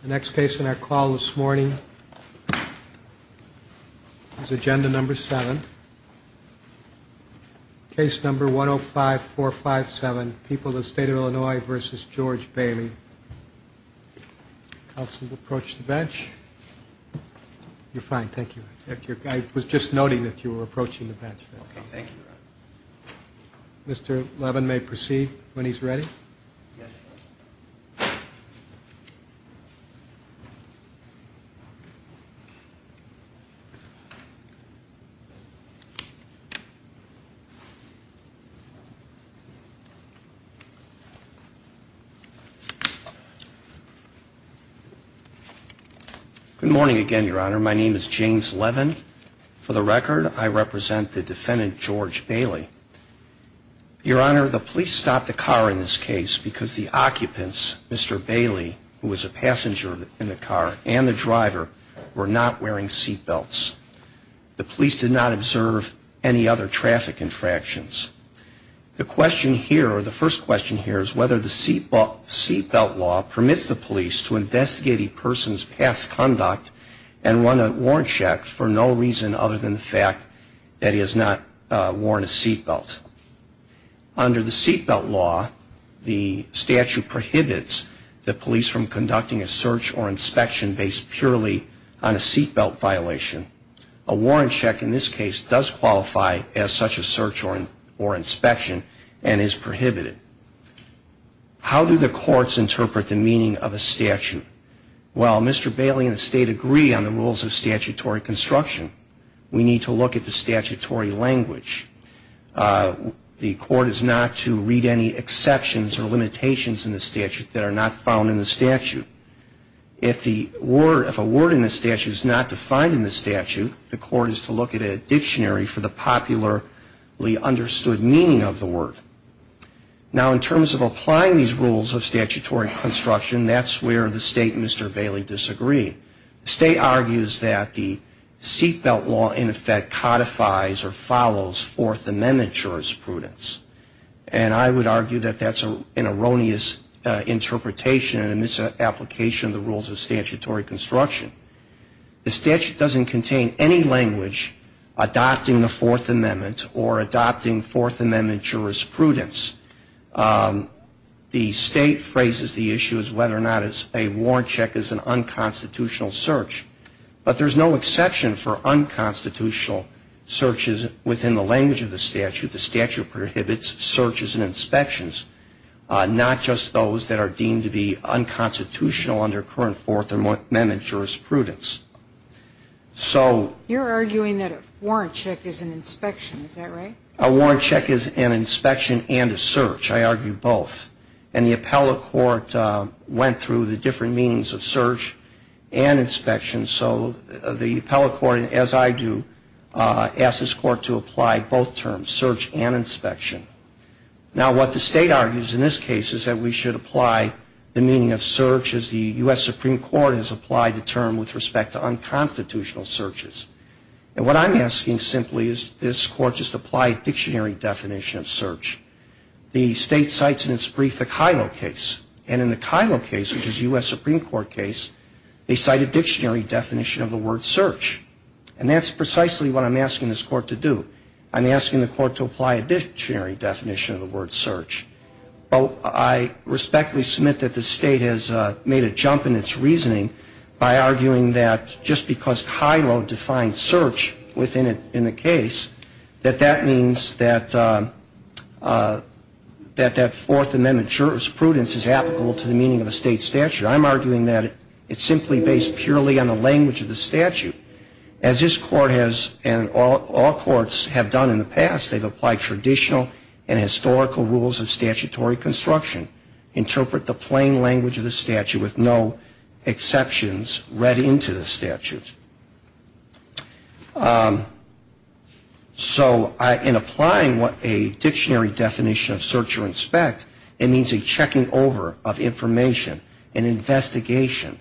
The next case in our call this morning is agenda number seven. Case number 105457, People of the State of Illinois v. George Bailey. Counsel to approach the bench. You're fine, thank you. I was just noting that you were approaching the bench. Okay, thank you. Mr. Levin may proceed when he's ready. Good morning again, Your Honor. My name is James Levin. For the record, I represent the defendant, George Bailey. Your Honor, the police stopped the car in this case because the occupants, Mr. Bailey, who was a passenger in the car, and the driver were not wearing seat belts. The police did not observe any other traffic infractions. The question here, or the first question here, is whether the seat belt law permits the police to investigate a person's past conduct and run a warrant check for no reason other than the fact that he has not worn a seat belt. Under the seat belt law, the statute prohibits the police from conducting a search or inspection based purely on a seat belt violation. A warrant check in this case does qualify as such a search or inspection and is prohibited. How do the courts interpret the meaning of a statute? Well, Mr. Bailey and the State agree on the rules of statutory construction. We need to look at the statutory language. The court is not to read any exceptions or limitations in the statute that are not found in the statute. If a word in the statute is not defined in the statute, the court is to look at a dictionary for the popularly understood meaning of the word. Now, in terms of applying these rules of statutory construction, that's where the State and Mr. Bailey disagree. The State argues that the seat belt law, in effect, codifies or follows Fourth Amendment jurisprudence. And I would argue that that's an erroneous interpretation and a misapplication of the rules of statutory construction. The statute doesn't contain any language adopting the Fourth Amendment or adopting Fourth Amendment jurisprudence. The State phrases the issue as whether or not a warrant check is an unconstitutional search. But there's no exception for unconstitutional searches within the language of the statute. The statute prohibits searches and inspections, not just those that are deemed to be unconstitutional under current Fourth Amendment jurisprudence. So... You're arguing that a warrant check is an inspection. Is that right? A warrant check is an inspection and a search. I argue both. And the appellate court went through the different meanings of search and inspection. So the appellate court, as I do, asks this court to apply both terms, search and inspection. Now, what the State argues in this case is that we should apply the meaning of search as the U.S. Supreme Court has applied the term with respect to unconstitutional searches. And what I'm asking simply is this court just apply a dictionary definition of search. The State cites in its brief the Kyllo case. And in the Kyllo case, which is a U.S. Supreme Court case, they cite a dictionary definition of the word search. And that's precisely what I'm asking this court to do. I'm asking the court to apply a dictionary definition of the word search. I respectfully submit that the State has made a jump in its reasoning by arguing that just because Kyllo defined search within the case, that that means that that Fourth Amendment jurisprudence is applicable to the meaning of a State statute. I'm arguing that it's simply based purely on the language of the statute. As this court has and all courts have done in the past, they've applied traditional and historical rules of statutory construction, interpret the plain language of the statute with no exceptions read into the statute. So in applying a dictionary definition of search or inspect, it means a checking over of information, an investigation.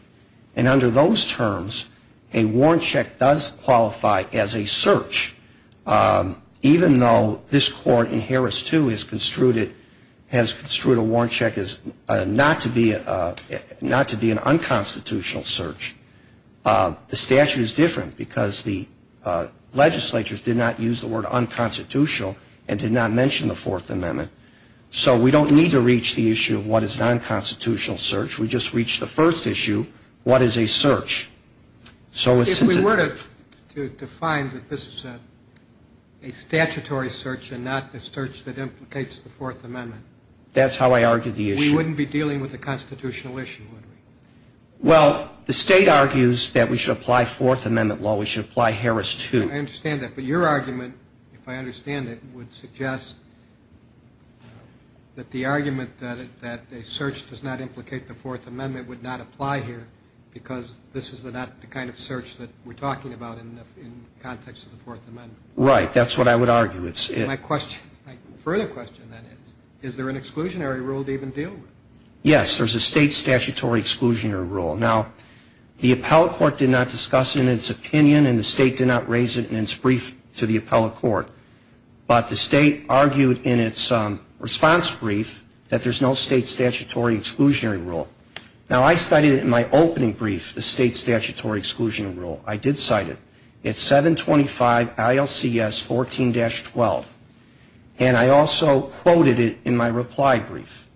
And under those terms, a warrant check does qualify as a search, even though this court in Harris 2 has construed a warrant check as not to be an unconstitutional search. The statute is different because the legislatures did not use the word unconstitutional and did not mention the Fourth Amendment. So we don't need to reach the issue of what is an unconstitutional search. We just reach the first issue, what is a search. If we were to define that this is a statutory search and not a search that implicates the Fourth Amendment, we wouldn't be dealing with a constitutional issue, would we? Well, the State argues that we should apply Fourth Amendment law. We should apply Harris 2. I understand that. But your argument, if I understand it, would suggest that the argument that a search does not implicate the Fourth Amendment would not apply here because this is not the kind of search that we're talking about in the context of the Fourth Amendment. Right. That's what I would argue. My further question, then, is, is there an exclusionary rule to even deal with? Yes, there's a State statutory exclusionary rule. Now, the appellate court did not discuss it in its opinion and the State did not raise it in its brief to the appellate court. But the State argued in its response brief that there's no State statutory exclusionary rule. Now, I cited it in my opening brief, the State statutory exclusion rule. I did cite it. It's 725 ILCS 14-12. And I also quoted it in my reply brief.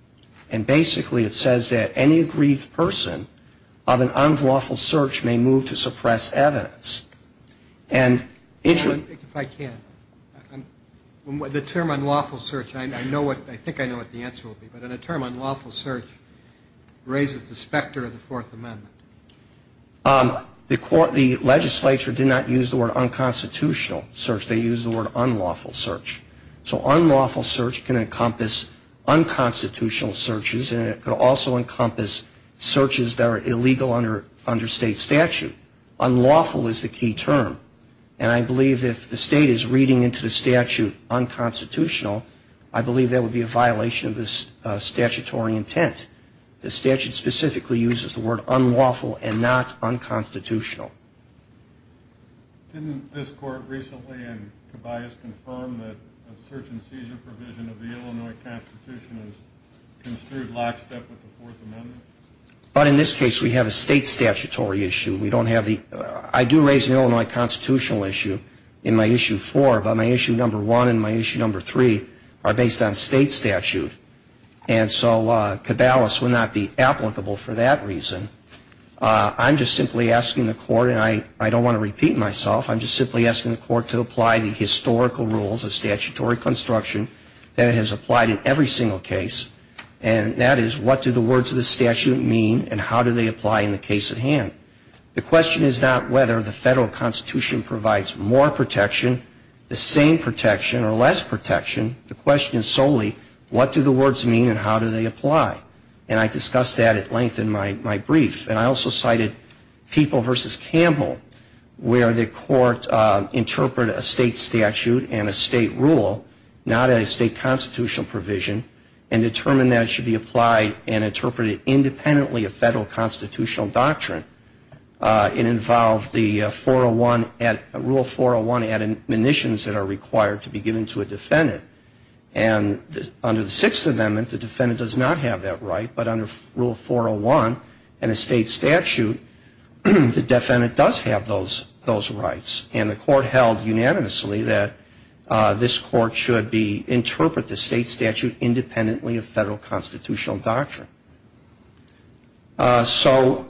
And basically, it says that any aggrieved person of an unlawful search may move to suppress evidence. And, Adrian? If I can, the term unlawful search, I know what, I think I know what the answer will be. But in a term, unlawful search raises the specter of the Fourth Amendment. The court, the legislature did not use the word unconstitutional search. They used the word unlawful search. So unlawful search can encompass unconstitutional searches and it could also encompass searches that are illegal under State statute. Unlawful is the key term. And I believe if the State is reading into the statute unconstitutional, I believe that would be a violation of the statutory intent. The statute specifically uses the word unlawful and not unconstitutional. Didn't this court recently in Tobias confirm that a search and seizure provision of the Illinois Constitution is construed lockstep with the Fourth Amendment? But in this case, we have a State statutory issue. We don't have the, I do raise an Illinois constitutional issue in my Issue 4, but my Issue 1 and my Issue 3 are based on State statute. And so Caballus would not be applicable for that reason. I'm just simply asking the court, and I don't want to repeat myself, I'm just simply asking the court to apply the historical rules of statutory construction that it has applied in every single case. And that is, what do the words of the statute mean and how do they apply in the case at hand? The question is not whether the Federal Constitution provides more protection, the same protection, or less protection. The question is solely, what do the words mean and how do they apply? And I discussed that at length in my brief. And I also cited People v. Campbell, where the court interpreted a State statute and a State rule, not a State constitutional provision, and determined that it should be applied and interpreted independently of Federal constitutional doctrine. It involved the 401, Rule 401 admonitions that are required to be given to a defendant. And under the Sixth Amendment, the defendant does not have that right, but under Rule 401 and a State statute, the defendant does have those rights. And the court held unanimously that this court should be, interpret the State statute independently of Federal constitutional doctrine. So,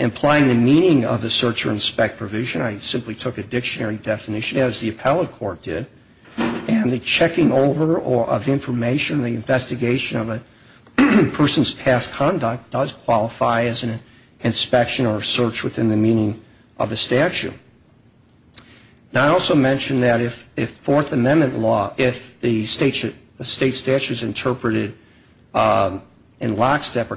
implying the meaning of the search or inspect provision, I simply took a dictionary definition, as the appellate court did, and the checking over of information, the investigation of a person's past conduct does qualify as an inspection or search within the meaning of the statute. Now, I also mentioned that if Fourth Amendment law, if the State statutes interpreted in lockstep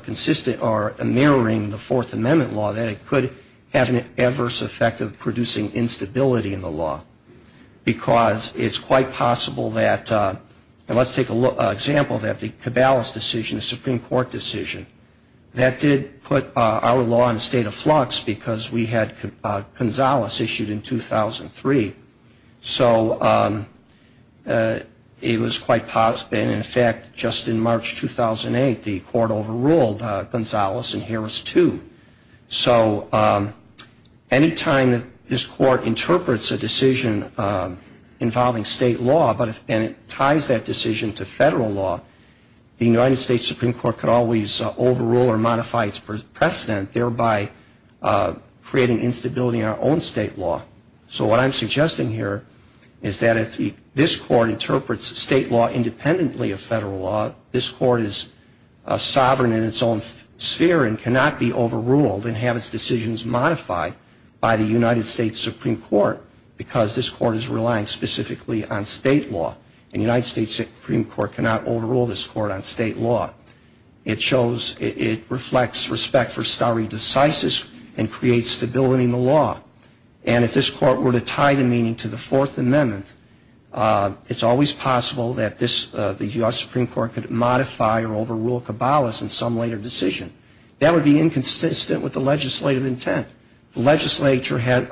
or mirroring the Fourth Amendment law, that it could have an adverse effect of producing instability in the law. Because it's quite possible that, and let's take an example that the Caballos decision, the Supreme Court decision, that did put our law in a state of flux because we had Gonzales issued in 2003. So, it was quite possible, and in fact, just in March 2008, the court overruled Gonzales in Harris 2. So, any time that this court interprets a decision involving State law, and it ties that decision to Federal law, the United States Supreme Court could always overrule or modify its precedent, thereby creating instability in our own State law. So, what I'm suggesting here is that if this court interprets State law independently of Federal law, this court is sovereign in its own sphere and cannot be overruled and have its decisions modified by the United States Supreme Court, because this court is relying specifically on State law, and the United States Supreme Court cannot overrule this court on State law. It shows, it reflects respect for stare decisis and creates stability in the law. And if this court were to tie the meaning to the Fourth Amendment, it's always possible that this, the U.S. Supreme Court could modify or overrule Caballos in some later decision. That would be inconsistent with the legislative intent. The legislature had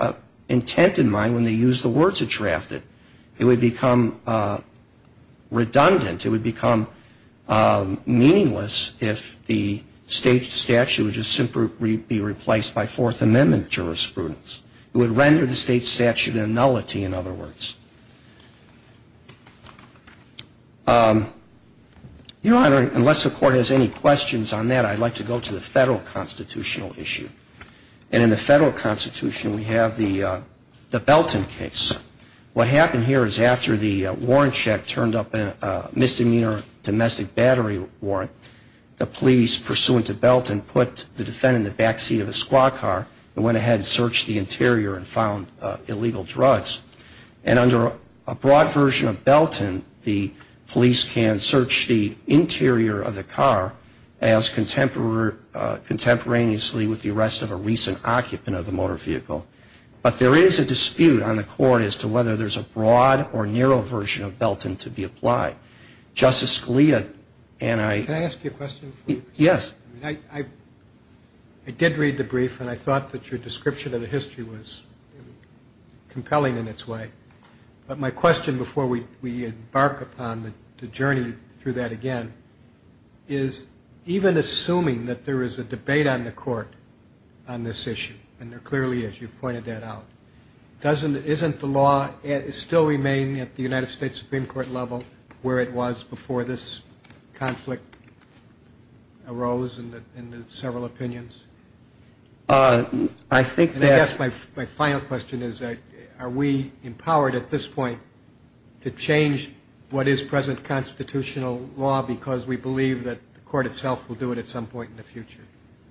intent in mind when they used the word to draft it. It would become redundant. It would become meaningless if the State statute would just simply be replaced by Fourth Amendment jurisprudence. It would render the State statute a nullity, in other words. Your Honor, unless the court has any questions on that, I'd like to go to the Federal constitutional issue. And in the Federal constitution, we have the Belton case. What happened here is after the warrant check turned up a misdemeanor domestic battery warrant, the police, pursuant to Belton, put the defendant in the back seat of a squad car and went ahead and searched the interior and found illegal drugs. And under a broad version of Belton, the police can search the interior of the car as contemporaneously with the arrest of a recent occupant of the motor vehicle. But there is a dispute on the court as to whether there's a broad or narrow version of Belton to be applied. Justice Scalia and I... But my question before we embark upon the journey through that again is even assuming that there is a debate on the court on this issue, and there clearly is. You've pointed that out. Doesn't the law still remain at the United States Supreme Court level where it was before this conflict arose and the several opinions? And I guess my final question is are we empowered at this point to change what is present constitutional law because we believe that the court itself will do it at some point in the future?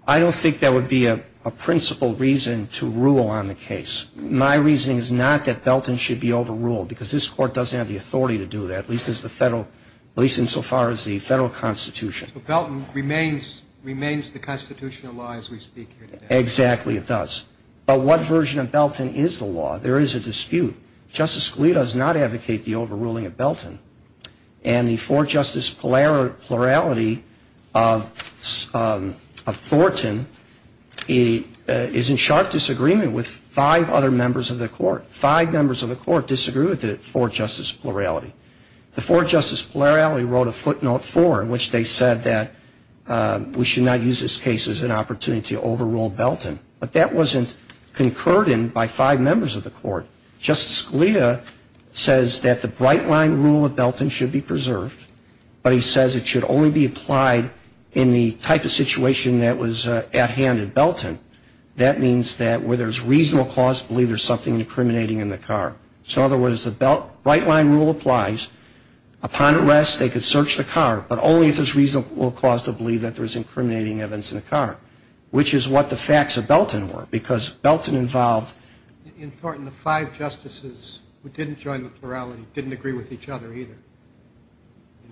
I don't think that would be a principal reason to rule on the case. My reasoning is not that Belton should be overruled, because this Court doesn't have the authority to do that, at least insofar as the Federal constitution. But Belton remains the constitutional law as we speak here today. Exactly, it does. But what version of Belton is the law? There is a dispute. Justice Scalia does not advocate the overruling of Belton, and the four-justice plurality of Thornton is in sharp disagreement with five other members of the Court. Five members of the Court disagree with the four-justice plurality. The four-justice plurality wrote a footnote for, in which they said that we should not use this case as an opportunity to overrule Belton. But that wasn't concurred in by five members of the Court. Justice Scalia says that the bright-line rule of Belton should be preserved, but he says it should only be applied in the type of situation that was at hand in Belton. That means that where there's reasonable cause to believe there's something incriminating in the car. So in other words, the bright-line rule applies. Upon arrest, they could search the car, but only if there's reasonable cause to believe that there's incriminating events in the car, which is what the facts of Belton were, because Belton involved... In Thornton, the five justices who didn't join the plurality didn't agree with each other either.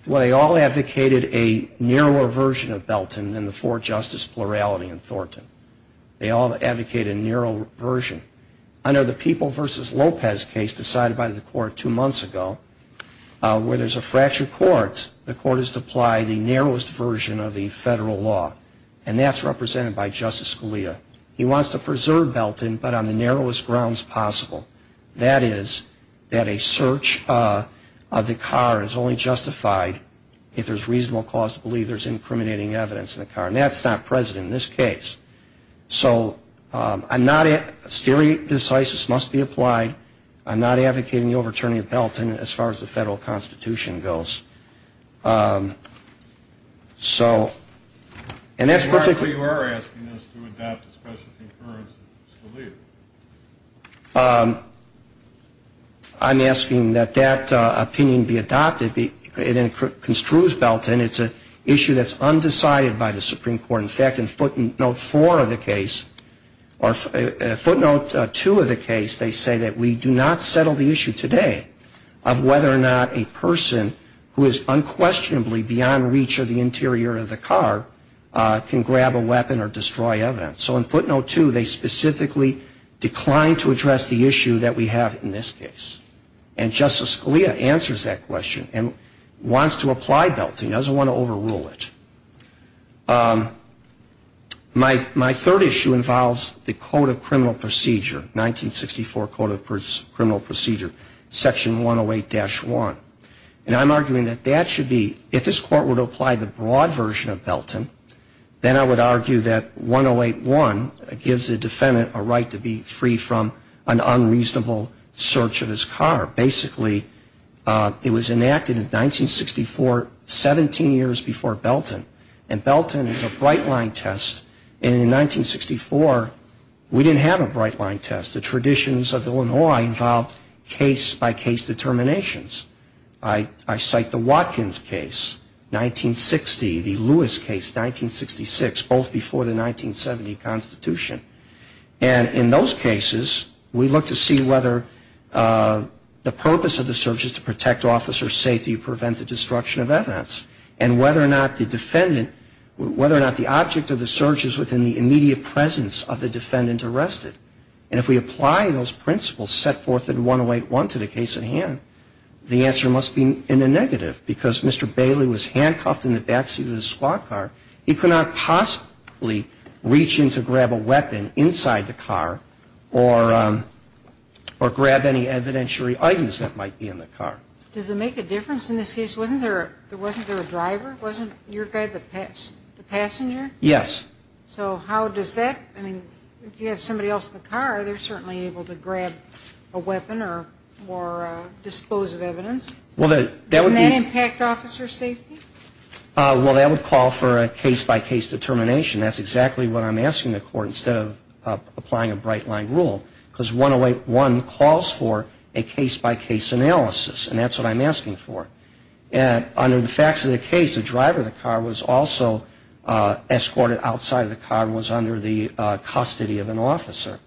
Well, they all advocated a narrower version of Belton than the four-justice plurality in Thornton. They all advocated a narrow version. Under the People v. Lopez case decided by the Court two months ago, where there's a fracture court, the Court is to apply the narrowest version of the federal law, and that's represented by Justice Scalia. He wants to preserve Belton, but on the narrowest grounds possible. That is, that a search of the car is only justified if there's reasonable cause to believe there's incriminating evidence in the car. And that's not present in this case. So I'm not...steering decisis must be applied. I'm not advocating the overturning of Belton as far as the federal Constitution goes. So...and that's perfectly... I'm asking that that opinion be adopted. It construes Belton. It's an issue that's undecided by the Supreme Court. In fact, in footnote four of the case, or footnote two of the case, they say that we do not settle the issue today of whether or not a person who is unquestionably beyond reach of the interior of the car can grab a weapon or destroy evidence. So in footnote two, they specifically decline to address the issue that we have in this case. And Justice Scalia answers that question and wants to apply Belton. He doesn't want to overrule it. My third issue involves the Code of Criminal Procedure, 1964 Code of Criminal Procedure, section 108-1. And I'm arguing that that should be...if this Court were to apply the broad version of Belton, then I would argue that 108-1 gives the defendant a right to be free from an unreasonable search of his car. Basically, it was enacted in 1964, 17 years before Belton. And Belton is a bright-line test. And in 1964, we didn't have a bright-line test. The traditions of Illinois involved case-by-case determinations. I cite the Watkins case, 1960, the Lewis case, 1966, both before the 1970 Constitution. And in those cases, we look to see whether the purpose of the search is to protect officers' safety and prevent the destruction of evidence, and whether or not the defendant...whether or not the object of the search is within the immediate presence of the defendant arrested. And if we apply those principles set forth in 108-1 to the case at hand, the answer must be in the negative, because Mr. Bailey was handcuffed in the backseat of his squad car. He could not possibly reach in to grab a weapon inside the car or grab any evidentiary items that might be in the car. Does it make a difference in this case? Wasn't there a driver? Wasn't your guy the passenger? Yes. So how does that...I mean, if you have somebody else in the car, they're certainly able to grab a weapon or dispose of evidence. Doesn't that impact officer safety? Well, that would call for a case-by-case determination. That's exactly what I'm asking the court instead of applying a bright-line rule. Because 108-1 calls for a case-by-case analysis, and that's what I'm asking for. Under the facts of the case, the driver of the car was also escorted outside of the car and was under the custody of an officer.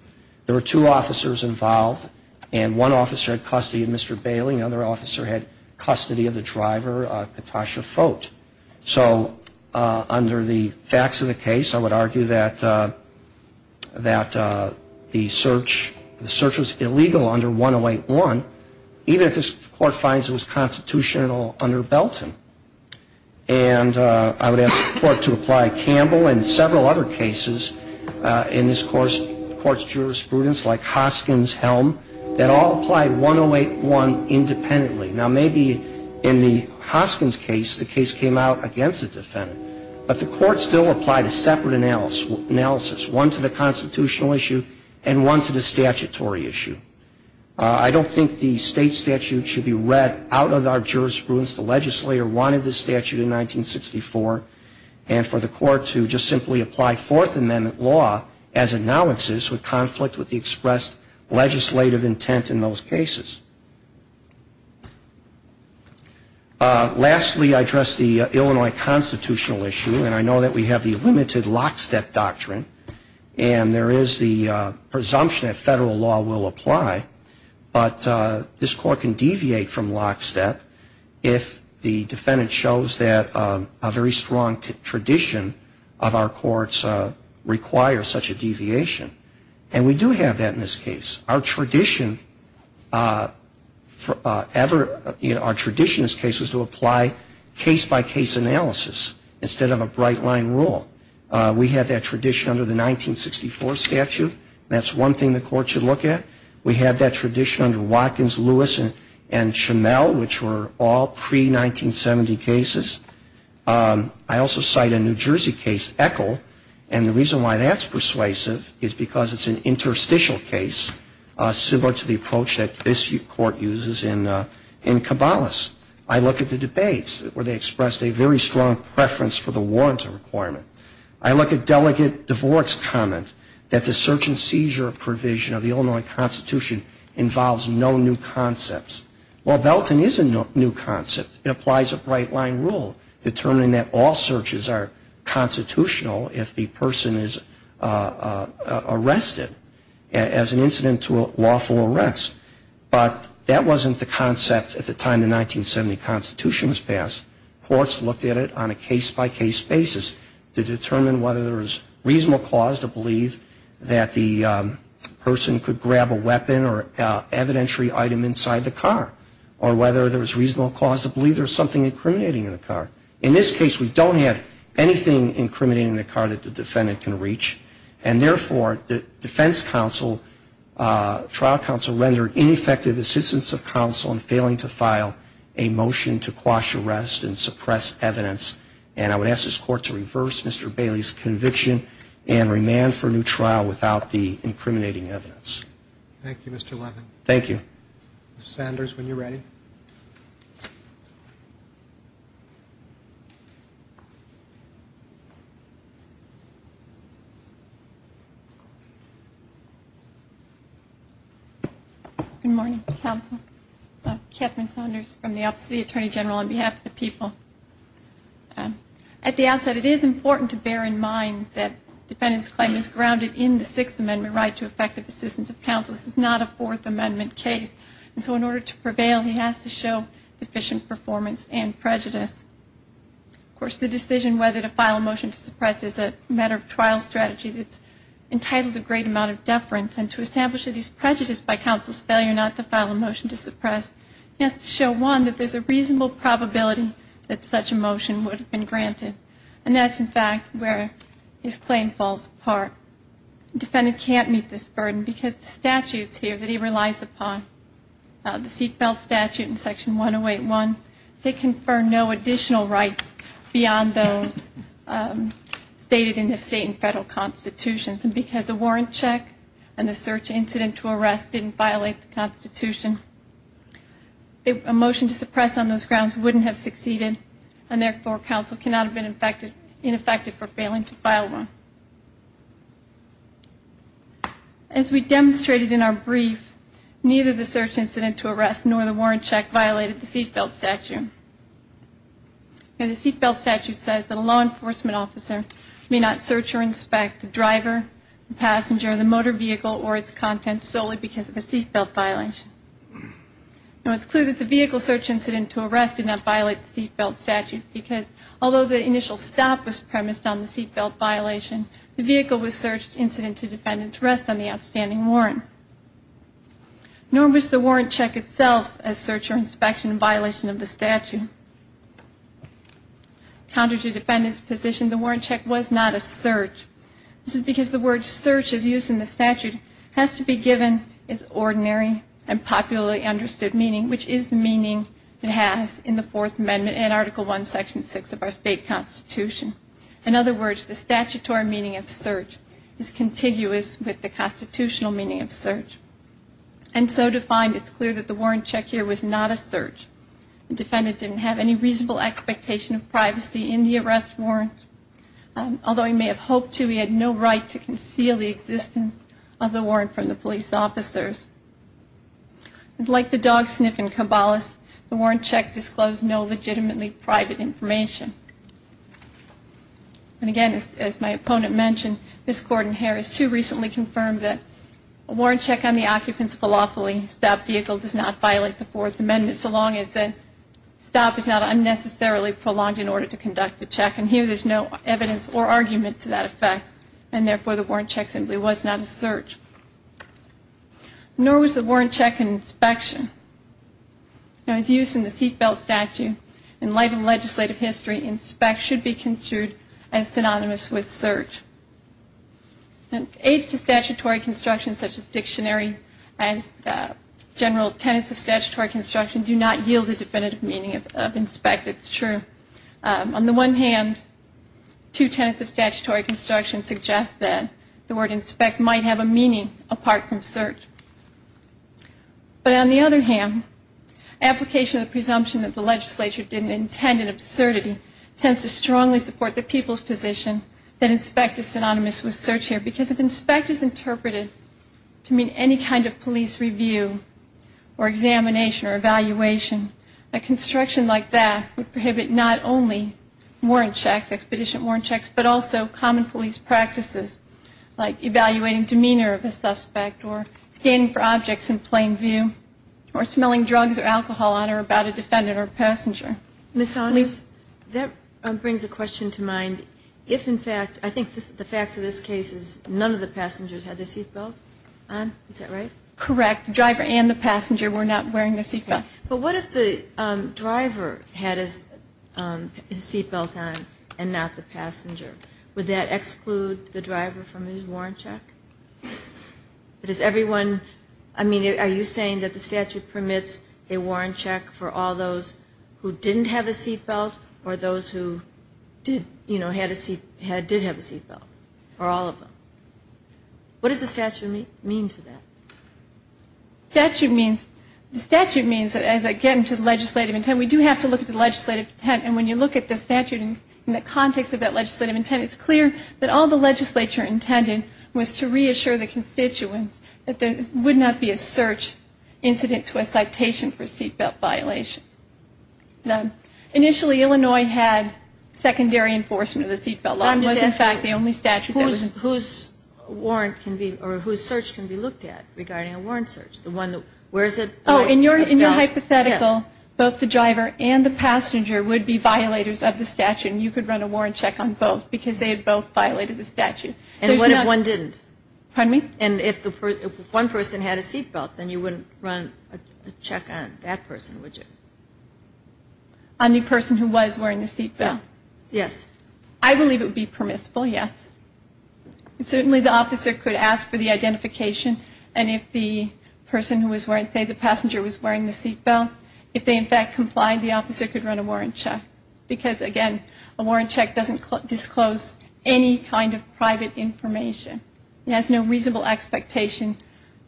There were two officers involved, and one officer had custody of Mr. Bailey, and the other officer had custody of the driver, and the other officer had custody of Mr. Bailey. Now, I would argue that the search was illegal under 108-1, even if this Court finds it was constitutional under Belton. And I would ask the Court to apply Campbell and several other cases in this Court's jurisprudence, like Hoskins-Helm, that all applied 108-1 independently. Now, maybe in the Hoskins case, the case came out against the defendant. But the Court still applied a separate analysis, one to the constitutional issue and one to the statutory issue. I don't think the state statute should be read out of our jurisprudence. The legislator wanted the statute in 1964. And for the Court to just simply apply Fourth Amendment law as it now exists would conflict with the expressed legislative intent in those cases. Lastly, I address the Illinois constitutional issue, and I know that we have the limited lockstep doctrine. And there is the presumption that federal law will apply. But this Court can deviate from lockstep if the defendant shows that a very strong tradition of our courts requires such a deviation. And we do have that in this case. Our tradition in this case was to apply case-by-case analysis instead of a bright-line rule. We had that tradition under the 1964 statute, and that's one thing the Court should look at. We had that tradition under Watkins, Lewis, and Schimel, which were all pre-1970 cases. I also cite a New Jersey case, Echol, and the reason why that's persuasive is because it's an interstitial case, similar to the approach that this Court uses in Cabalas. I look at the debates where they expressed a very strong preference for the warrants requirement. I look at Delegate DeVorek's comment that the search and seizure provision of the Illinois Constitution involves no new concepts. Well, Belton is a new concept. It applies a bright-line rule determining that all searches are constitutional if the person is arrested as an incident to a lawful arrest. But that wasn't the concept at the time the 1970 Constitution was passed. Courts looked at it on a case-by-case basis to determine whether there was reasonable cause to believe that the person could grab a weapon or evidentiary item inside the car, or whether there was reasonable cause to believe there was something incriminating in the car. In this case, we don't have anything incriminating in the car that the defendant can reach, and therefore, in effect, the citizens of counsel are failing to file a motion to quash arrest and suppress evidence. And I would ask this Court to reverse Mr. Bailey's conviction and remand for new trial without the incriminating evidence. Thank you, Mr. Levin. Thank you. Good morning, counsel. Catherine Saunders from the Office of the Attorney General on behalf of the people. At the outset, it is important to bear in mind that defendant's claim is grounded in the Sixth Amendment right to effective assistance of counsel. This is not a Fourth Amendment case, and so in order to prevail, he has to show deficient performance and prejudice. Of course, the decision whether to file a motion to suppress is a matter of trial strategy that's entitled to a great amount of deference, and to establish that he's prejudiced by counsel's failure not to file a motion to suppress, he has to show, one, that there's a reasonable probability that such a motion would have been granted. And that's, in fact, where his claim falls apart. Defendant can't meet this burden because the statutes here that he relies upon, the seat belt statute in Section 108.1, they confer no additional rights beyond those stated in the state and federal constitutions. And because the warrant check and the search incident to arrest didn't violate the Constitution, a motion to suppress on those grounds wouldn't have succeeded, and therefore counsel cannot have been ineffective for failing to file one. As we demonstrated in our brief, neither the search incident to arrest nor the warrant check violated the seat belt statute. And the seat belt statute says that a law enforcement officer may not search or inspect the driver, the passenger, the motor vehicle, or its contents solely because of a seat belt violation. Now, it's clear that the vehicle search incident to arrest did not violate the seat belt statute, because although the initial stop was premised on the seat belt violation, the vehicle was searched incident to defendant's arrest on the outstanding warrant. Nor was the warrant check itself a search or inspection violation of the statute. Counter to defendant's position, the warrant check was not a search. This is because the word search as used in the statute has to be given its ordinary and popularly understood meaning, which is the meaning it has in the Fourth Amendment and Article I, Section 6 of our state constitution. In other words, the statutory meaning of search is contiguous with the constitutional meaning of search. And so to find, it's clear that the warrant check here was not a search. The defendant didn't have any reasonable expectation of privacy in the arrest warrant. Although he may have hoped to, he had no right to conceal the existence of the warrant from the police officers. Like the dog sniff in Cabalas, the warrant check disclosed no legitimately private information. And again, as my opponent mentioned, Ms. Gordon-Harris too recently confirmed that a warrant check on the occupant's And the reason why I'm saying this is because the state constitution here is a lawful statute. And therefore, lawfully, a stopped vehicle does not violate the Fourth Amendment so long as the stop is not unnecessarily prolonged in order to conduct the check. And here there's no evidence or argument to that effect and, therefore, the warrant check simply was not a search. Nor was the warrant check an inspection. Now, as used in the seat belt statute, in light of legislative history, inspect should be considered as synonymous with search. And aids to statutory construction such as dictionary and general tenets of statutory construction do not yield a definitive meaning of inspect. It's true. On the one hand, two tenets of statutory construction suggest that the word inspect might have a meaning apart from search. But on the other hand, application of the presumption that the legislature didn't intend an absurdity tends to strongly support the people's position that inspect is synonymous with search here. Because if inspect is interpreted to mean any kind of police review or examination or evaluation, a construction like that would be a violation of the statute. And so it's important to understand that the statute does not apply to inspect. It applies to all kinds of inspections, not only warrant checks, expedition warrant checks, but also common police practices like evaluating demeanor of a suspect or scanning for objects in plain view or smelling drugs or alcohol on or about a defendant or passenger. Ms. Saunders, that brings a question to mind. If, in fact, I think the facts of this case is none of the passengers had their seatbelts on, is that right? Correct, the driver and the passenger were not wearing their seatbelts. But what if the driver had his seatbelt on and not the passenger? Would that exclude the driver from his warrant check? But is everyone, I mean, are you saying that the statute permits a warrant check for all those who didn't have a seatbelt or those who did, you know, had a seat, did have a seatbelt, or all of them? What does the statute mean to that? The statute means, as I get into the legislative intent, we do have to look at the legislative intent. And when you look at the statute in the context of that legislative intent, it's clear that all the legislature intended was to reassure the constituents that there would not be a search incident to a citation for seatbelt violation. Initially, Illinois had secondary enforcement of the seatbelt law. Whose warrant can be, or whose search can be looked at regarding a warrant search? The one that, where is it? Oh, in your hypothetical, both the driver and the passenger would be violators of the statute, and you could run a warrant check on both because they had both violated the statute. And what if one didn't? Pardon me? And if one person had a seatbelt, then you wouldn't run a check on that person, would you? On the person who was wearing the seatbelt? Yes. I believe it would be permissible, yes. Certainly the officer could ask for the identification, and if the person who was wearing, say the passenger was wearing the seatbelt, if they in fact complied, the officer could run a warrant check. Because, again, a warrant check doesn't disclose any kind of private information. It has no reasonable expectation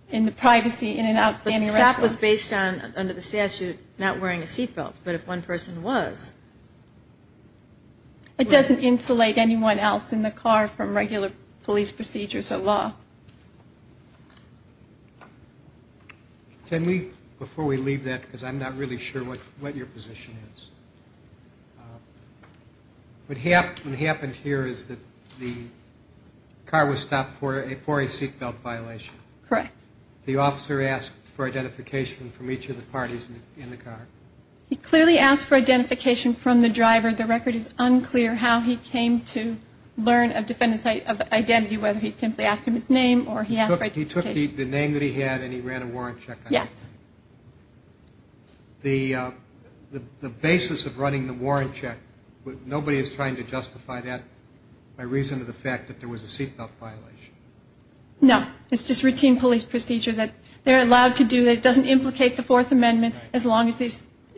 in the privacy in an outstanding restaurant. The stop was based on, under the statute, not wearing a seatbelt, but if one person was. It doesn't insulate anyone else in the car from regular police procedures or law. Can we, before we leave that, because I'm not really sure what your position is. What happened here is that the car was stopped for a seatbelt violation. Correct. The officer asked for identification from each of the parties in the car. He clearly asked for identification from the driver. The record is unclear how he came to learn of defendant's identity, whether he simply asked him his name or he asked for identification. He took the name that he had and he ran a warrant check on him. Yes. The basis of running the warrant check, nobody is trying to justify that by reason of the fact that there was a seatbelt violation. No. It's just routine police procedure that they're allowed to do that. It doesn't implicate the Fourth Amendment as long as the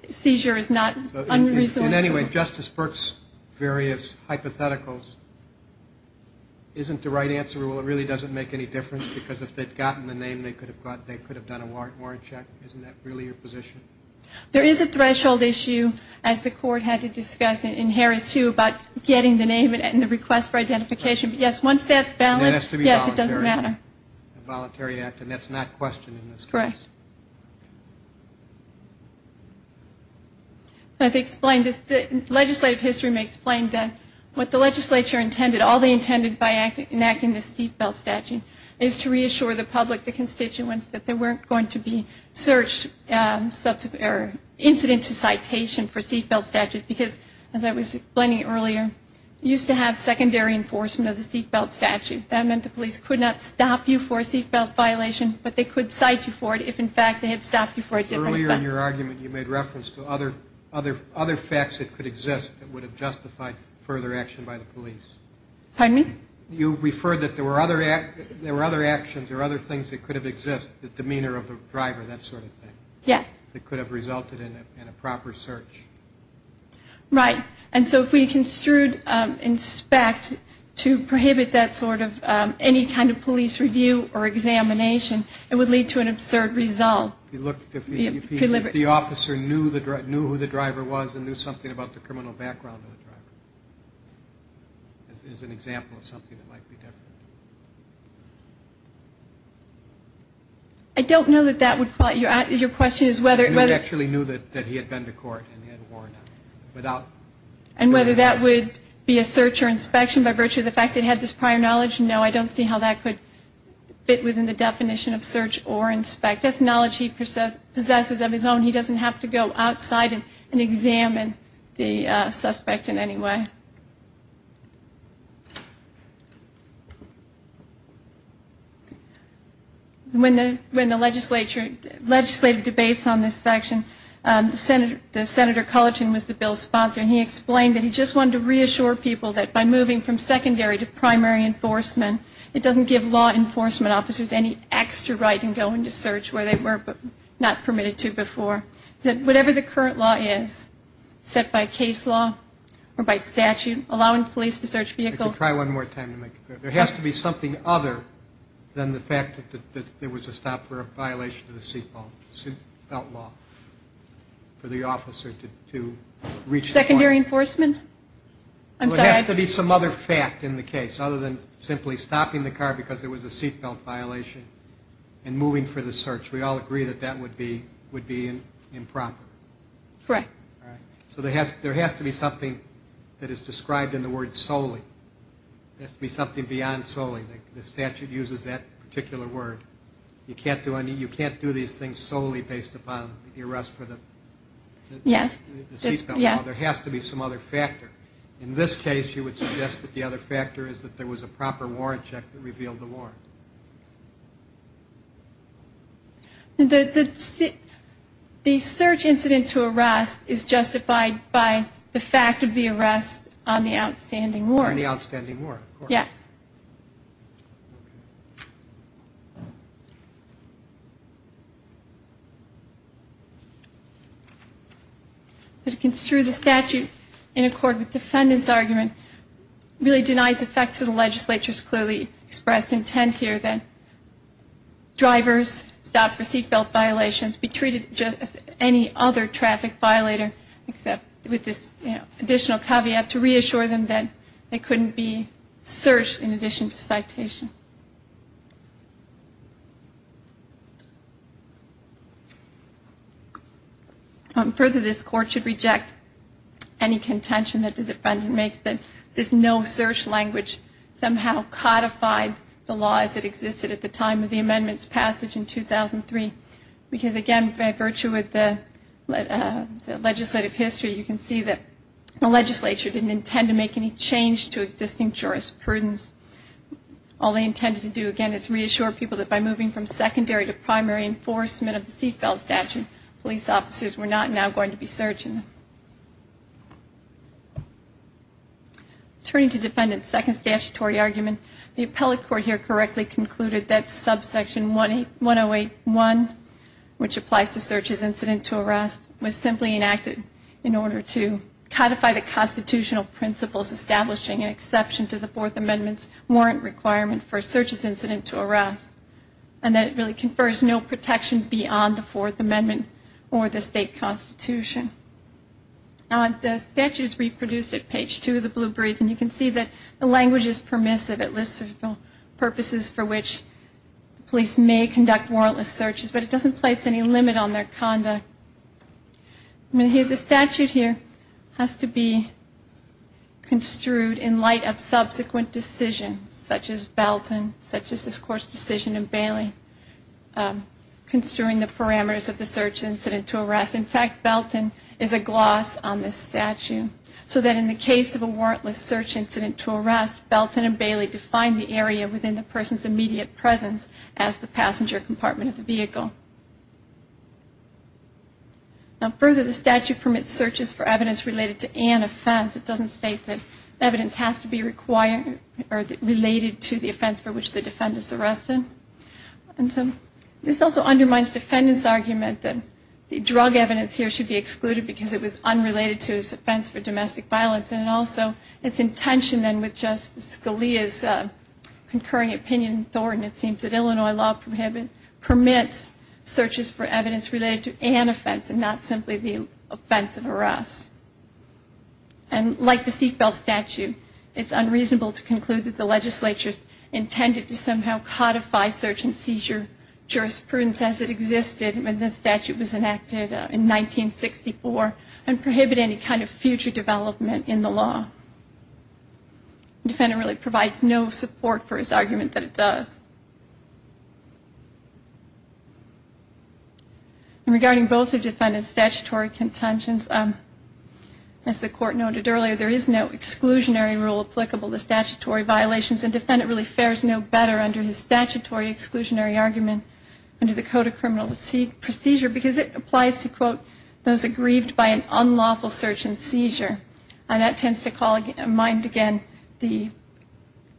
seizure is not unreasonable. Anyway, Justice Burke's various hypotheticals isn't the right answer. Well, it really doesn't make any difference, because if they'd gotten the name, they could have done a warrant check. Isn't that really your position? There is a threshold issue, as the Court had to discuss in Harris, too, about getting the name and the request for identification. Yes, once that's valid, yes, it doesn't matter. It has to be voluntary. A voluntary act, and that's not questioned in this case. Correct. As explained, legislative history may explain that what the legislature intended, all they intended by enacting the seatbelt statute, is to reassure the public, the constituents, that there weren't going to be search, incident to citation for seatbelt statutes, because, as I was explaining earlier, you used to have secondary enforcement of the seatbelt statute. That meant the police could not stop you for a seatbelt violation, but they could cite you for it if, in fact, they had stopped you for a different event. Earlier in your argument, you made reference to other facts that could exist that would have justified further action by the police. Pardon me? You referred that there were other actions or other things that could have existed, the demeanor of the driver, that sort of thing. Yes. That could have resulted in a proper search. Right. And so if we construed inspect to prohibit that sort of any kind of police review or examination, it would lead to an absurd result. If the officer knew who the driver was and knew something about the criminal background of the driver, as an example of something that might be different. I don't know that that would apply. Your question is whether... He actually knew that he had been to court and he had worn a seatbelt. And whether that would be a search or inspection by virtue of the fact that he had this prior knowledge? No, I don't see how that could fit within the definition of search or inspect. That's knowledge he possesses of his own. He doesn't have to go outside and examine the suspect in any way. When the legislature legislated debates on this section, the Senator Cullerton was the bill's sponsor. And he explained that he just wanted to reassure people that by moving from secondary to primary enforcement, it doesn't give law enforcement officers any extra right in going to search where they were not permitted to before. That whatever the current law is, set by case law or by statute, allowing police to search vehicles... I could try one more time to make it clear. There has to be something other than the fact that there was a stop for a violation of the seatbelt law for the officer to reach the point. Secondary enforcement? I'm sorry. There has to be some other fact in the case, other than simply stopping the car because there was a seatbelt violation and moving for the search. We all agree that that would be improper. Correct. So there has to be something that is described in the word solely. There has to be something beyond solely. The statute uses that particular word. You can't do these things solely based upon the arrest for the seatbelt law. There has to be some other factor. In this case, you would suggest that the other factor is that there was a proper warrant check that revealed the warrant. The search incident to arrest is justified by the fact of the arrest on the outstanding warrant. On the outstanding warrant. Yes. To construe the statute in accord with the defendant's argument really denies effect to the legislature's clearly expressed intent here. That drivers stopped for seatbelt violations be treated just as any other traffic violator except with this additional caveat to reassure them that they couldn't be searched in addition to citation. Further, this court should reject any contention that the defendant makes that this no search language somehow codified the laws that existed at the time of the amendment's passage in 2003. Because again, by virtue of the legislative history, you can see that the legislature didn't intend to make any change to existing jurisprudence. All they intended to do again is reassure people that by moving from secondary to primary enforcement of the seatbelt statute, police officers were not now going to be searched. Turning to defendant's second statutory argument, the appellate court here correctly concluded that subsection 108.1, which applies to search as incident to arrest, was simply enacted in order to codify the constitutional principles establishing an exception to the Fourth Amendment's warrant requirement for search as incident to arrest. And that it really confers no protection beyond the Fourth Amendment or the state constitution. The statute is reproduced at page 2 of the blue brief and you can see that the language is permissive. It lists the purposes for which police may conduct warrantless searches, but it doesn't place any limit on their conduct. The statute here has to be construed in light of subsequent decisions, such as Belton, such as this court's decision in Bailey construing the parameters of the search incident to arrest. In fact, Belton is a gloss on this statute, so that in the case of a warrantless search incident to arrest, Belton and Bailey define the area within the person's immediate presence as the passenger compartment of the vehicle. Now further, the statute permits searches for evidence related to an offense. It doesn't state that evidence has to be related to the offense for which the defendant is arrested. This also undermines defendant's argument that drug evidence here should be excluded because it was unrelated to his offense for domestic violence. And also, its intention then with Justice Scalia's concurring opinion, Thornton, it seems that Illinois law permits searches for evidence related to an offense and not simply the offense of arrest. And like the Siegfeld statute, it's unreasonable to conclude that the legislature intended to somehow codify search and seizure jurisprudence as it did in 1964 and prohibit any kind of future development in the law. The defendant really provides no support for his argument that it does. And regarding both the defendant's statutory contentions, as the court noted earlier, there is no exclusionary rule applicable to statutory violations, and the defendant really fares no better under his statutory exclusionary argument under the Code of Criminal Procedure because it applies to, quote, those aggrieved by an unlawful search and seizure. And that tends to call mind again the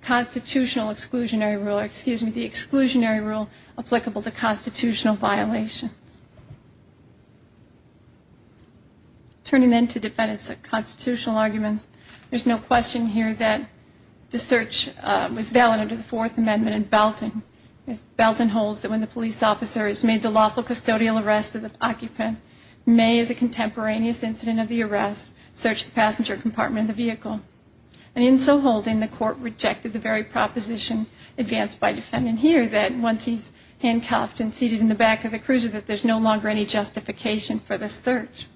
constitutional exclusionary rule, or excuse me, the exclusionary rule applicable to constitutional violations. Turning then to defendants constitutional arguments, there's no question here that the search was valid under the Fourth Amendment and Belton holds that when the police officer has made the lawful custodial arrest of the occupant, may, as a contemporaneous incident of the arrest, search the passenger compartment of the vehicle. And in so holding, the court rejected the very proposition advanced by defendant here, that once he's handcuffed and seated in the back of the cruiser, that there's no longer any justification for the search.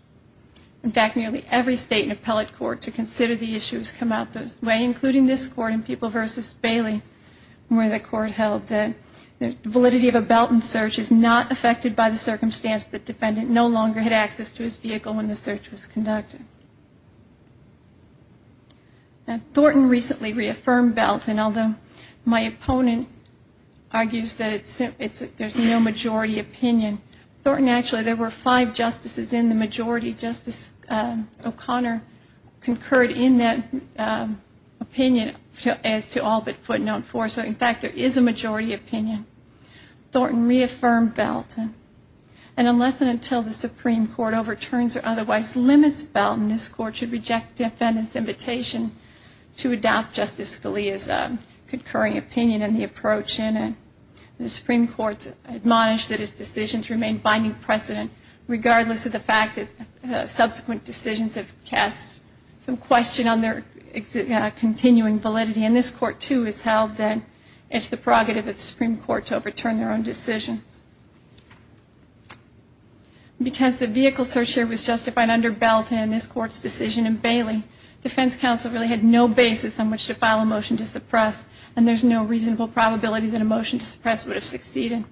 In fact, nearly every state and appellate court to consider the issue has come out this way, including this court in People v. Bailey where the court held that the validity of a Belton search is not affected by the circumstance that defendant no longer had access to his vehicle when the search was conducted. Thornton recently reaffirmed Belton, although my opponent argues that there's no majority opinion. Thornton actually, there were five justices in the majority. Justice O'Connor concurred in that opinion as to all but footnote four. So in fact, there is a majority opinion. Thornton reaffirmed Belton. And unless and until the Supreme Court overturns or otherwise limits Belton, this court should reject defendant's invitation to adopt Justice Scalia's concurring opinion in the approach. And the Supreme Court admonished that his decisions remain binding precedent, regardless of the fact that subsequent decisions have cast some question on their continuing validity. And this court, too, has held that it's the prerogative of the Supreme Court to overturn their own decisions. Because the vehicle search here was justified under Belton and this court's decision in Bailey, defense counsel really had no basis on which to file a motion to suppress, and there's no reasonable probability that a motion to suppress would have succeeded.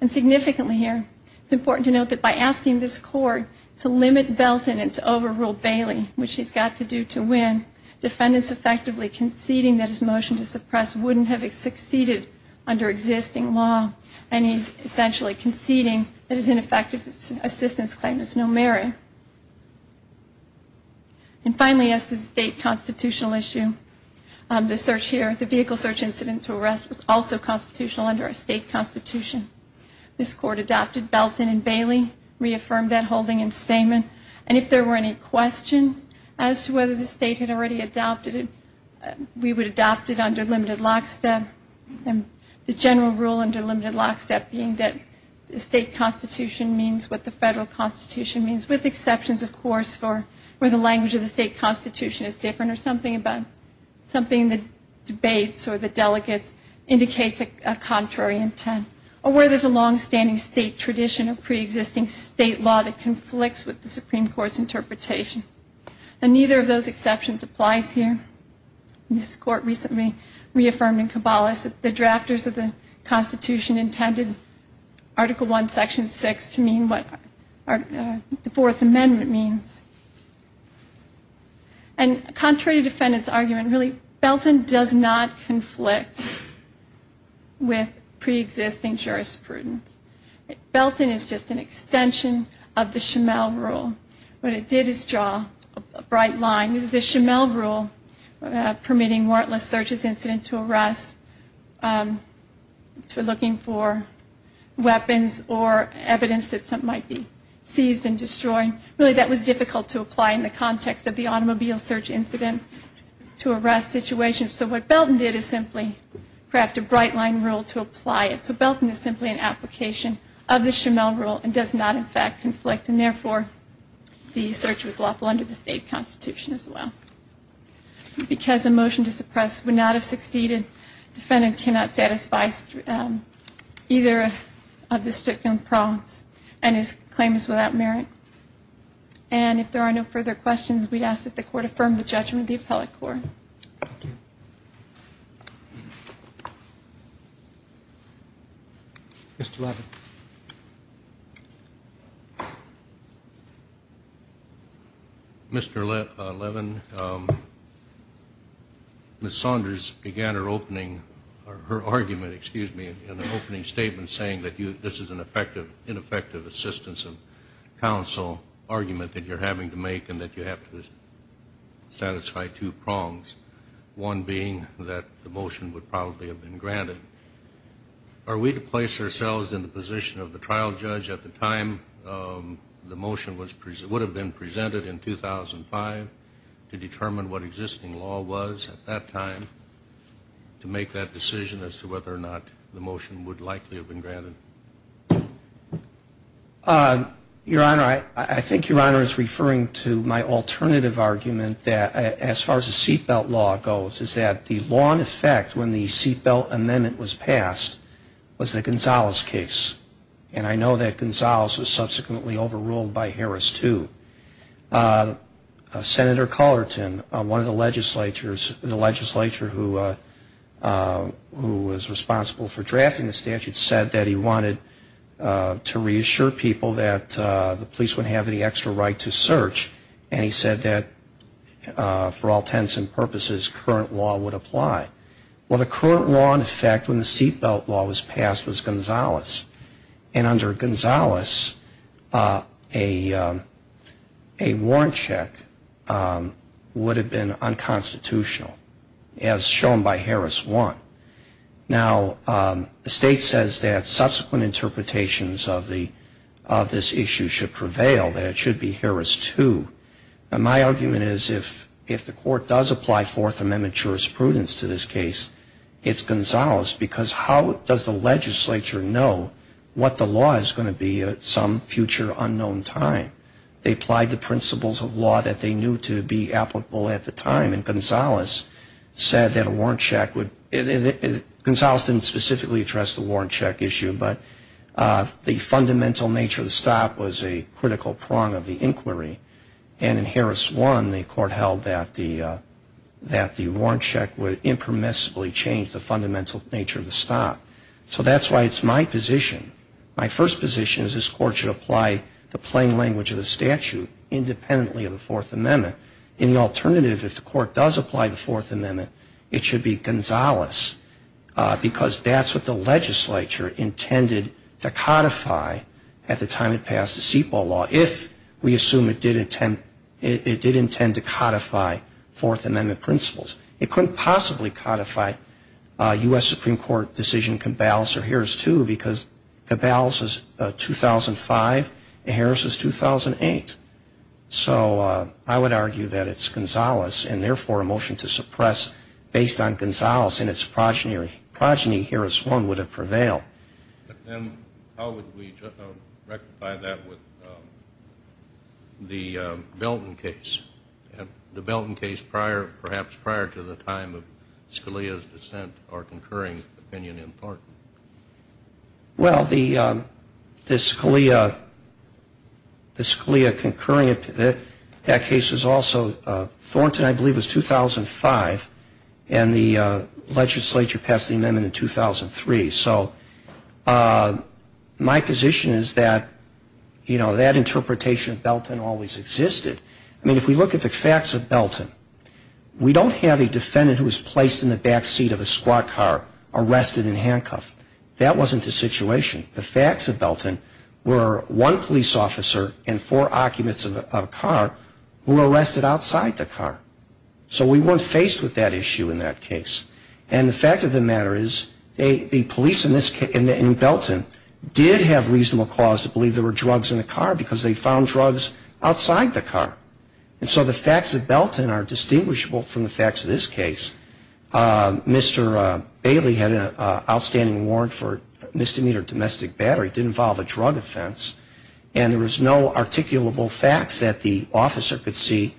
And significantly here, it's important to note that by asking this court to limit Belton and to overrule Bailey, which he's got to do to win, defendants effectively conceding that his motion to suppress wouldn't have succeeded under existing law and he's essentially conceding that his ineffective assistance claim is no merit. And finally, as to the state constitutional issue, the search here, the vehicle search incident to arrest was also constitutional under a state constitution. This court adopted Belton and Bailey, reaffirmed that holding in statement, and if there were any question as to whether the state had already adopted it, we would adopt it under limited lockstep. The general rule under limited lockstep being that the state constitution means what the federal constitution means, with exceptions, of course, where the language of the state constitution is different or something the debates or the delegates indicates a contrary intent. Or where there's a longstanding state tradition of preexisting state law that conflicts with the Supreme Court's interpretation. And neither of those exceptions applies here. This court recently reaffirmed in Kabbalah that the drafters of the constitution intended Article I, Section 6 to mean what the Fourth Amendment means. And contrary to defendants' argument, really, Belton does not conflict with preexisting jurisprudence. Belton is just an extension of the Schimel rule. What it did is draw a bright line. This is the Schimel rule permitting warrantless searches incident to arrest for looking for weapons or evidence that something might be seized and destroyed. Really, that was difficult to apply in the context of the automobile search incident to arrest situations. So what Belton did is simply craft a bright line rule to indicate that there is no contradiction of the Schimel rule and does not, in fact, conflict. And therefore, the search was lawful under the state constitution as well. Because a motion to suppress would not have succeeded, defendant cannot satisfy either of the stipulated prongs and his claim is without merit. And if there are no further questions, we ask that the court affirm the judgment of the appellate court. Thank you. Mr. Levin. Mr. Levin, Ms. Saunders began her opening, or her argument, excuse me, in the opening statement saying that this is an ineffective assistance of counsel argument that you're having to make and that you have to satisfy two prongs, one being that the motion would probably have been granted. Are we to place ourselves in the position of the trial judge at the time the motion would have been presented in 2005 to determine what existing law was at that time to make that decision as to whether or not the motion would likely have been granted? Your Honor, I think Your Honor is referring to my alternative argument that as far as the seatbelt law goes is that the law in effect when the seatbelt amendment was passed was the Gonzalez case. And I know that Gonzalez was subsequently overruled by Harris too. Senator Cullerton, one of the legislatures, the legislator who was responsible for drafting the statute said that he wanted to reassure people that the police would have the extra right to search and he said that for all intents and purposes current law would apply. Well, the current law in effect when the seatbelt law was passed was Gonzalez. And under Gonzalez a warrant check would have been unconstitutional as shown by Harris 1. Now the state says that subsequent interpretations of the of this issue should prevail, that it should be Harris 2. My argument is if the court does apply Fourth Amendment jurisprudence to this case, it's Gonzalez because how does the legislature know what the law is going to be at some future unknown time? They applied the principles of law that they knew to be applicable at the time and Gonzalez said that a warrant check would, Gonzalez didn't specifically address the warrant check issue but the fundamental nature of the stop was a critical prong of the inquiry and in Harris 1 the court held that the warrant check would impermissibly change the fundamental nature of the stop. So that's why it's my position, my first position is this court should apply the plain language of the statute independently of the Fourth Amendment. In the alternative if the court does apply the Fourth Amendment it should be Gonzalez because that's what the legislature intended to codify at the time it passed the seat ball law if we assume it did intend it did intend to codify Fourth Amendment principles. It couldn't possibly codify U.S. Supreme Court decision Cabales or Harris 2 because Cabales is 2005 and Harris is 2008. So I would argue that it's Gonzalez and therefore a motion to suppress based on Gonzalez and its progeny. Progeny Harris 1 would have prevailed. Then how would we rectify that with the Belton case? The Belton case prior, perhaps prior to the time of Scalia's dissent or concurring opinion in Thornton? Well the Scalia, the Scalia concurring opinion, that case was also, Thornton I believe was 2005 and the legislature passed the amendment in 2003. So my position is that you know that interpretation of Belton always existed. I mean if we look at the facts of Belton, we don't have a defendant who was placed in the back seat of a squad car, arrested and handcuffed. That wasn't the situation. The facts of Belton were one police officer and four occupants of a car who were arrested outside the car. So we weren't faced with that issue in that case. And the fact of the matter is the police in Belton did have reasonable cause to believe there were drugs in the car because they found drugs outside the car. And so the facts of Belton are distinguishable from the facts of this case. Mr. Bailey had an outstanding warrant for misdemeanor domestic battery. It didn't involve a drug officer could see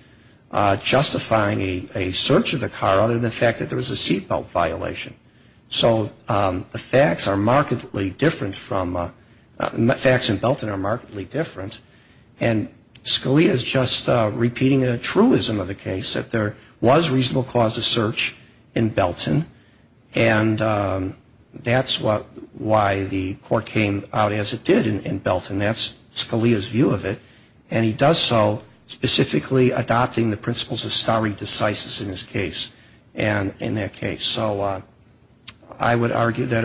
justifying a search of the car other than the fact that there was a seat belt violation. So the facts are markedly different from, the facts in Belton are markedly different. And Scalia is just repeating a truism of the case that there was reasonable cause to search in Belton and that's why the court came out as it did in Belton. That's Scalia's view of it and he does so specifically adopting the principles of stare decisis in this case and in that case. So I would argue that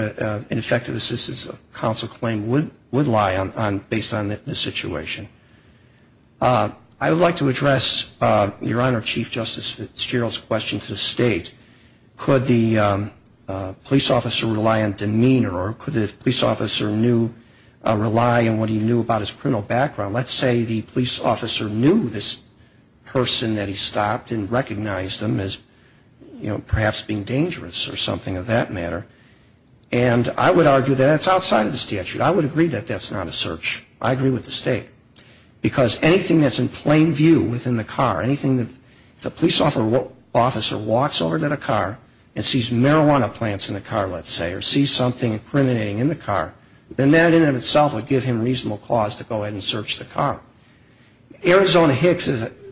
an effective assistance of counsel claim would lie based on the situation. I would like to address your Honor, Chief Justice Fitzgerald's question to the State. Could the police officer rely on demeanor or could the police officer rely on what he knew about his criminal background. Let's say the police officer knew this person that he stopped and recognized them as perhaps being dangerous or something of that matter. And I would argue that that's outside of the statute. I would agree that that's not a search. I agree with the State. Because anything that's in plain view within the car, anything that the police officer walks over to the car and sees marijuana plants in the car let's say or sees something incriminating in the car then that in and of itself would give him reasonable cause to go ahead and search the car. Arizona Hicks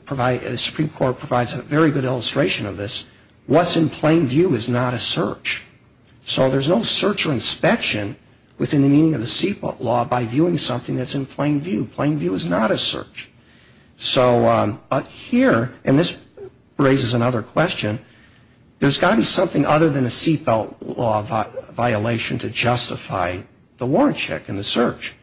provides, the Supreme Court provides a very good illustration of this. What's in plain view is not a search. So there's no search or inspection within the meaning of the seatbelt law by viewing something that's in plain view. Plain view is not a search. So here, and this raises another question, there's got to be something other than a seatbelt law violation to justify the warrant check and the search.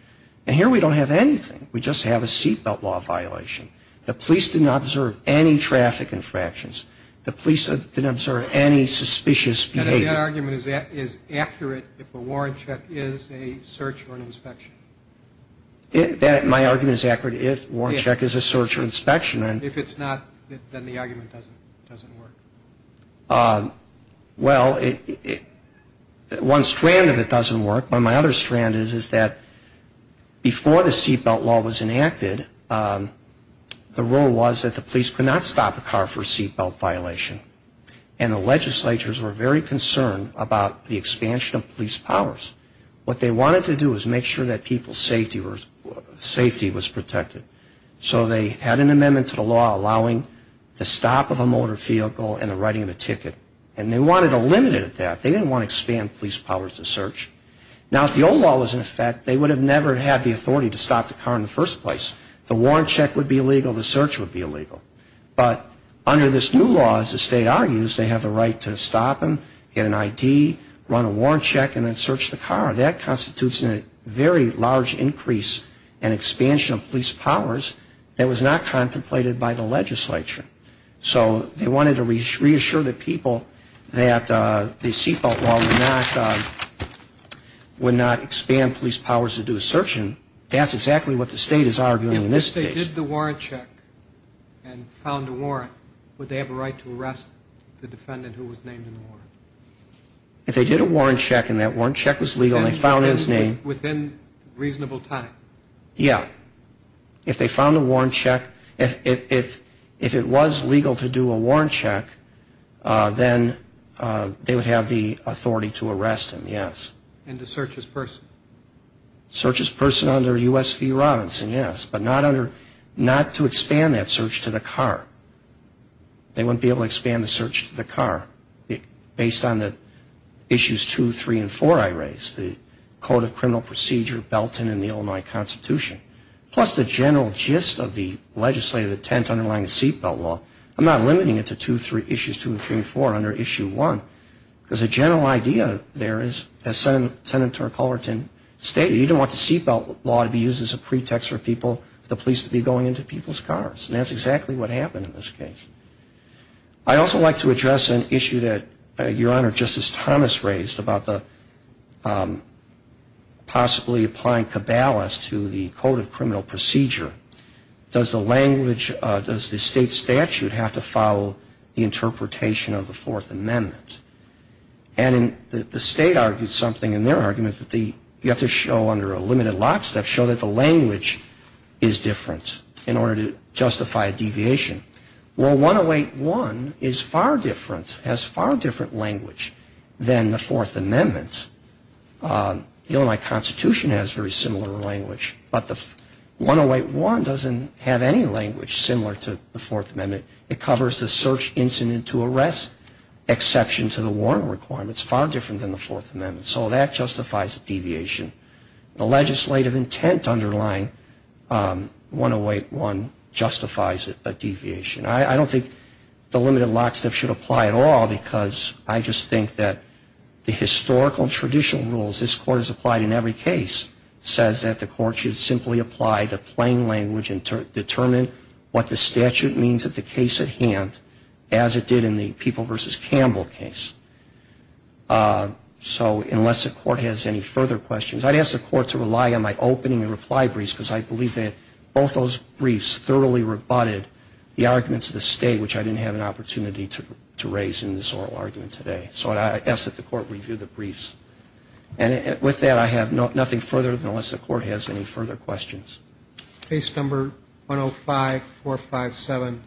And here we don't have anything. We just have a seatbelt law violation. The police didn't observe any traffic infractions. The police didn't observe any suspicious behavior. And that argument is accurate if a warrant check is a search or an inspection. My argument is accurate if warrant check is a search or inspection. If it's not, then the argument doesn't work. Well, one strand of it doesn't work, but my other strand is that before the seatbelt law was enacted, the rule was that the police could not stop a car for a seatbelt violation. And the legislatures were very concerned about the expansion of police powers. What they wanted to do was make sure that people's safety was protected. So they had an amendment to the law allowing the stop of a motor vehicle and the writing of a ticket. And they wanted to limit it at that. They didn't want to expand police powers to search. Now, if the old law was in effect, they would have never had the authority to stop the car in the first place. The warrant check would be illegal. The search would be illegal. But under this new law, as the state argues, they have the right to stop them, get an ID, run a warrant check, and then search the car. That constitutes a very large increase and expansion of police powers that was not contemplated by the legislature. So they wanted to reassure the people that the seatbelt law would not expand police powers to do a search. And that's exactly what the state is arguing in this case. If they did the warrant check and found a warrant, would they have a right to arrest the defendant who was named in the warrant? If they did a warrant check and that warrant check was legal and they found his name... If they found a warrant check, if it was legal to do a warrant check, then they would have the authority to arrest him, yes. And to search his person? Search his person under U.S. v. Robinson, yes. But not to expand that search to the car. They wouldn't be able to expand the search to the car based on the issues 2, 3, and 4 I raised. The Code of Criminal Procedure, Belton, and the Illinois Constitution. Plus the general gist of the legislative intent underlying the seatbelt law. I'm not limiting it to 2, 3, issues 2, 3, and 4 under issue 1. Because the general idea there is, as Senator Culverton stated, you don't want the seatbelt law to be used as a pretext for people, the police to be going into people's cars. And that's exactly what happened in this case. I'd also like to address an issue that Your Honor, Justice Thomas raised about the possibly applying cabalas to the Code of Criminal Procedure. Does the state statute have to follow the interpretation of the Fourth Amendment? And the state argued something in their argument that you have to show under a limited lockstep, show that the language is different in order to justify a deviation. Well, 108.1 is far different, has far different language than the Fourth Amendment. The Illinois Constitution has very similar language, but the 108.1 doesn't have any language similar to the Fourth Amendment. It covers the search incident to arrest exception to the warrant requirements, far different than the Fourth Amendment. So that justifies a deviation. The legislative intent underlying 108.1 justifies a deviation. I don't think the limited lockstep should apply at all, because I just think that the historical and traditional rules this Court has applied in every case says that the Court should simply apply the plain language and determine what the statute means at the case at hand as it did in the People v. Campbell case. So unless the Court has any further questions, I'd ask the Court to rely on my opening and reply briefs, because I believe that both those briefs thoroughly rebutted the arguments of the state, which I didn't have an opportunity to raise in this oral argument today. So I'd ask that the Court review the briefs. And with that, I have nothing further unless the Court has any further questions. Case number 105-457.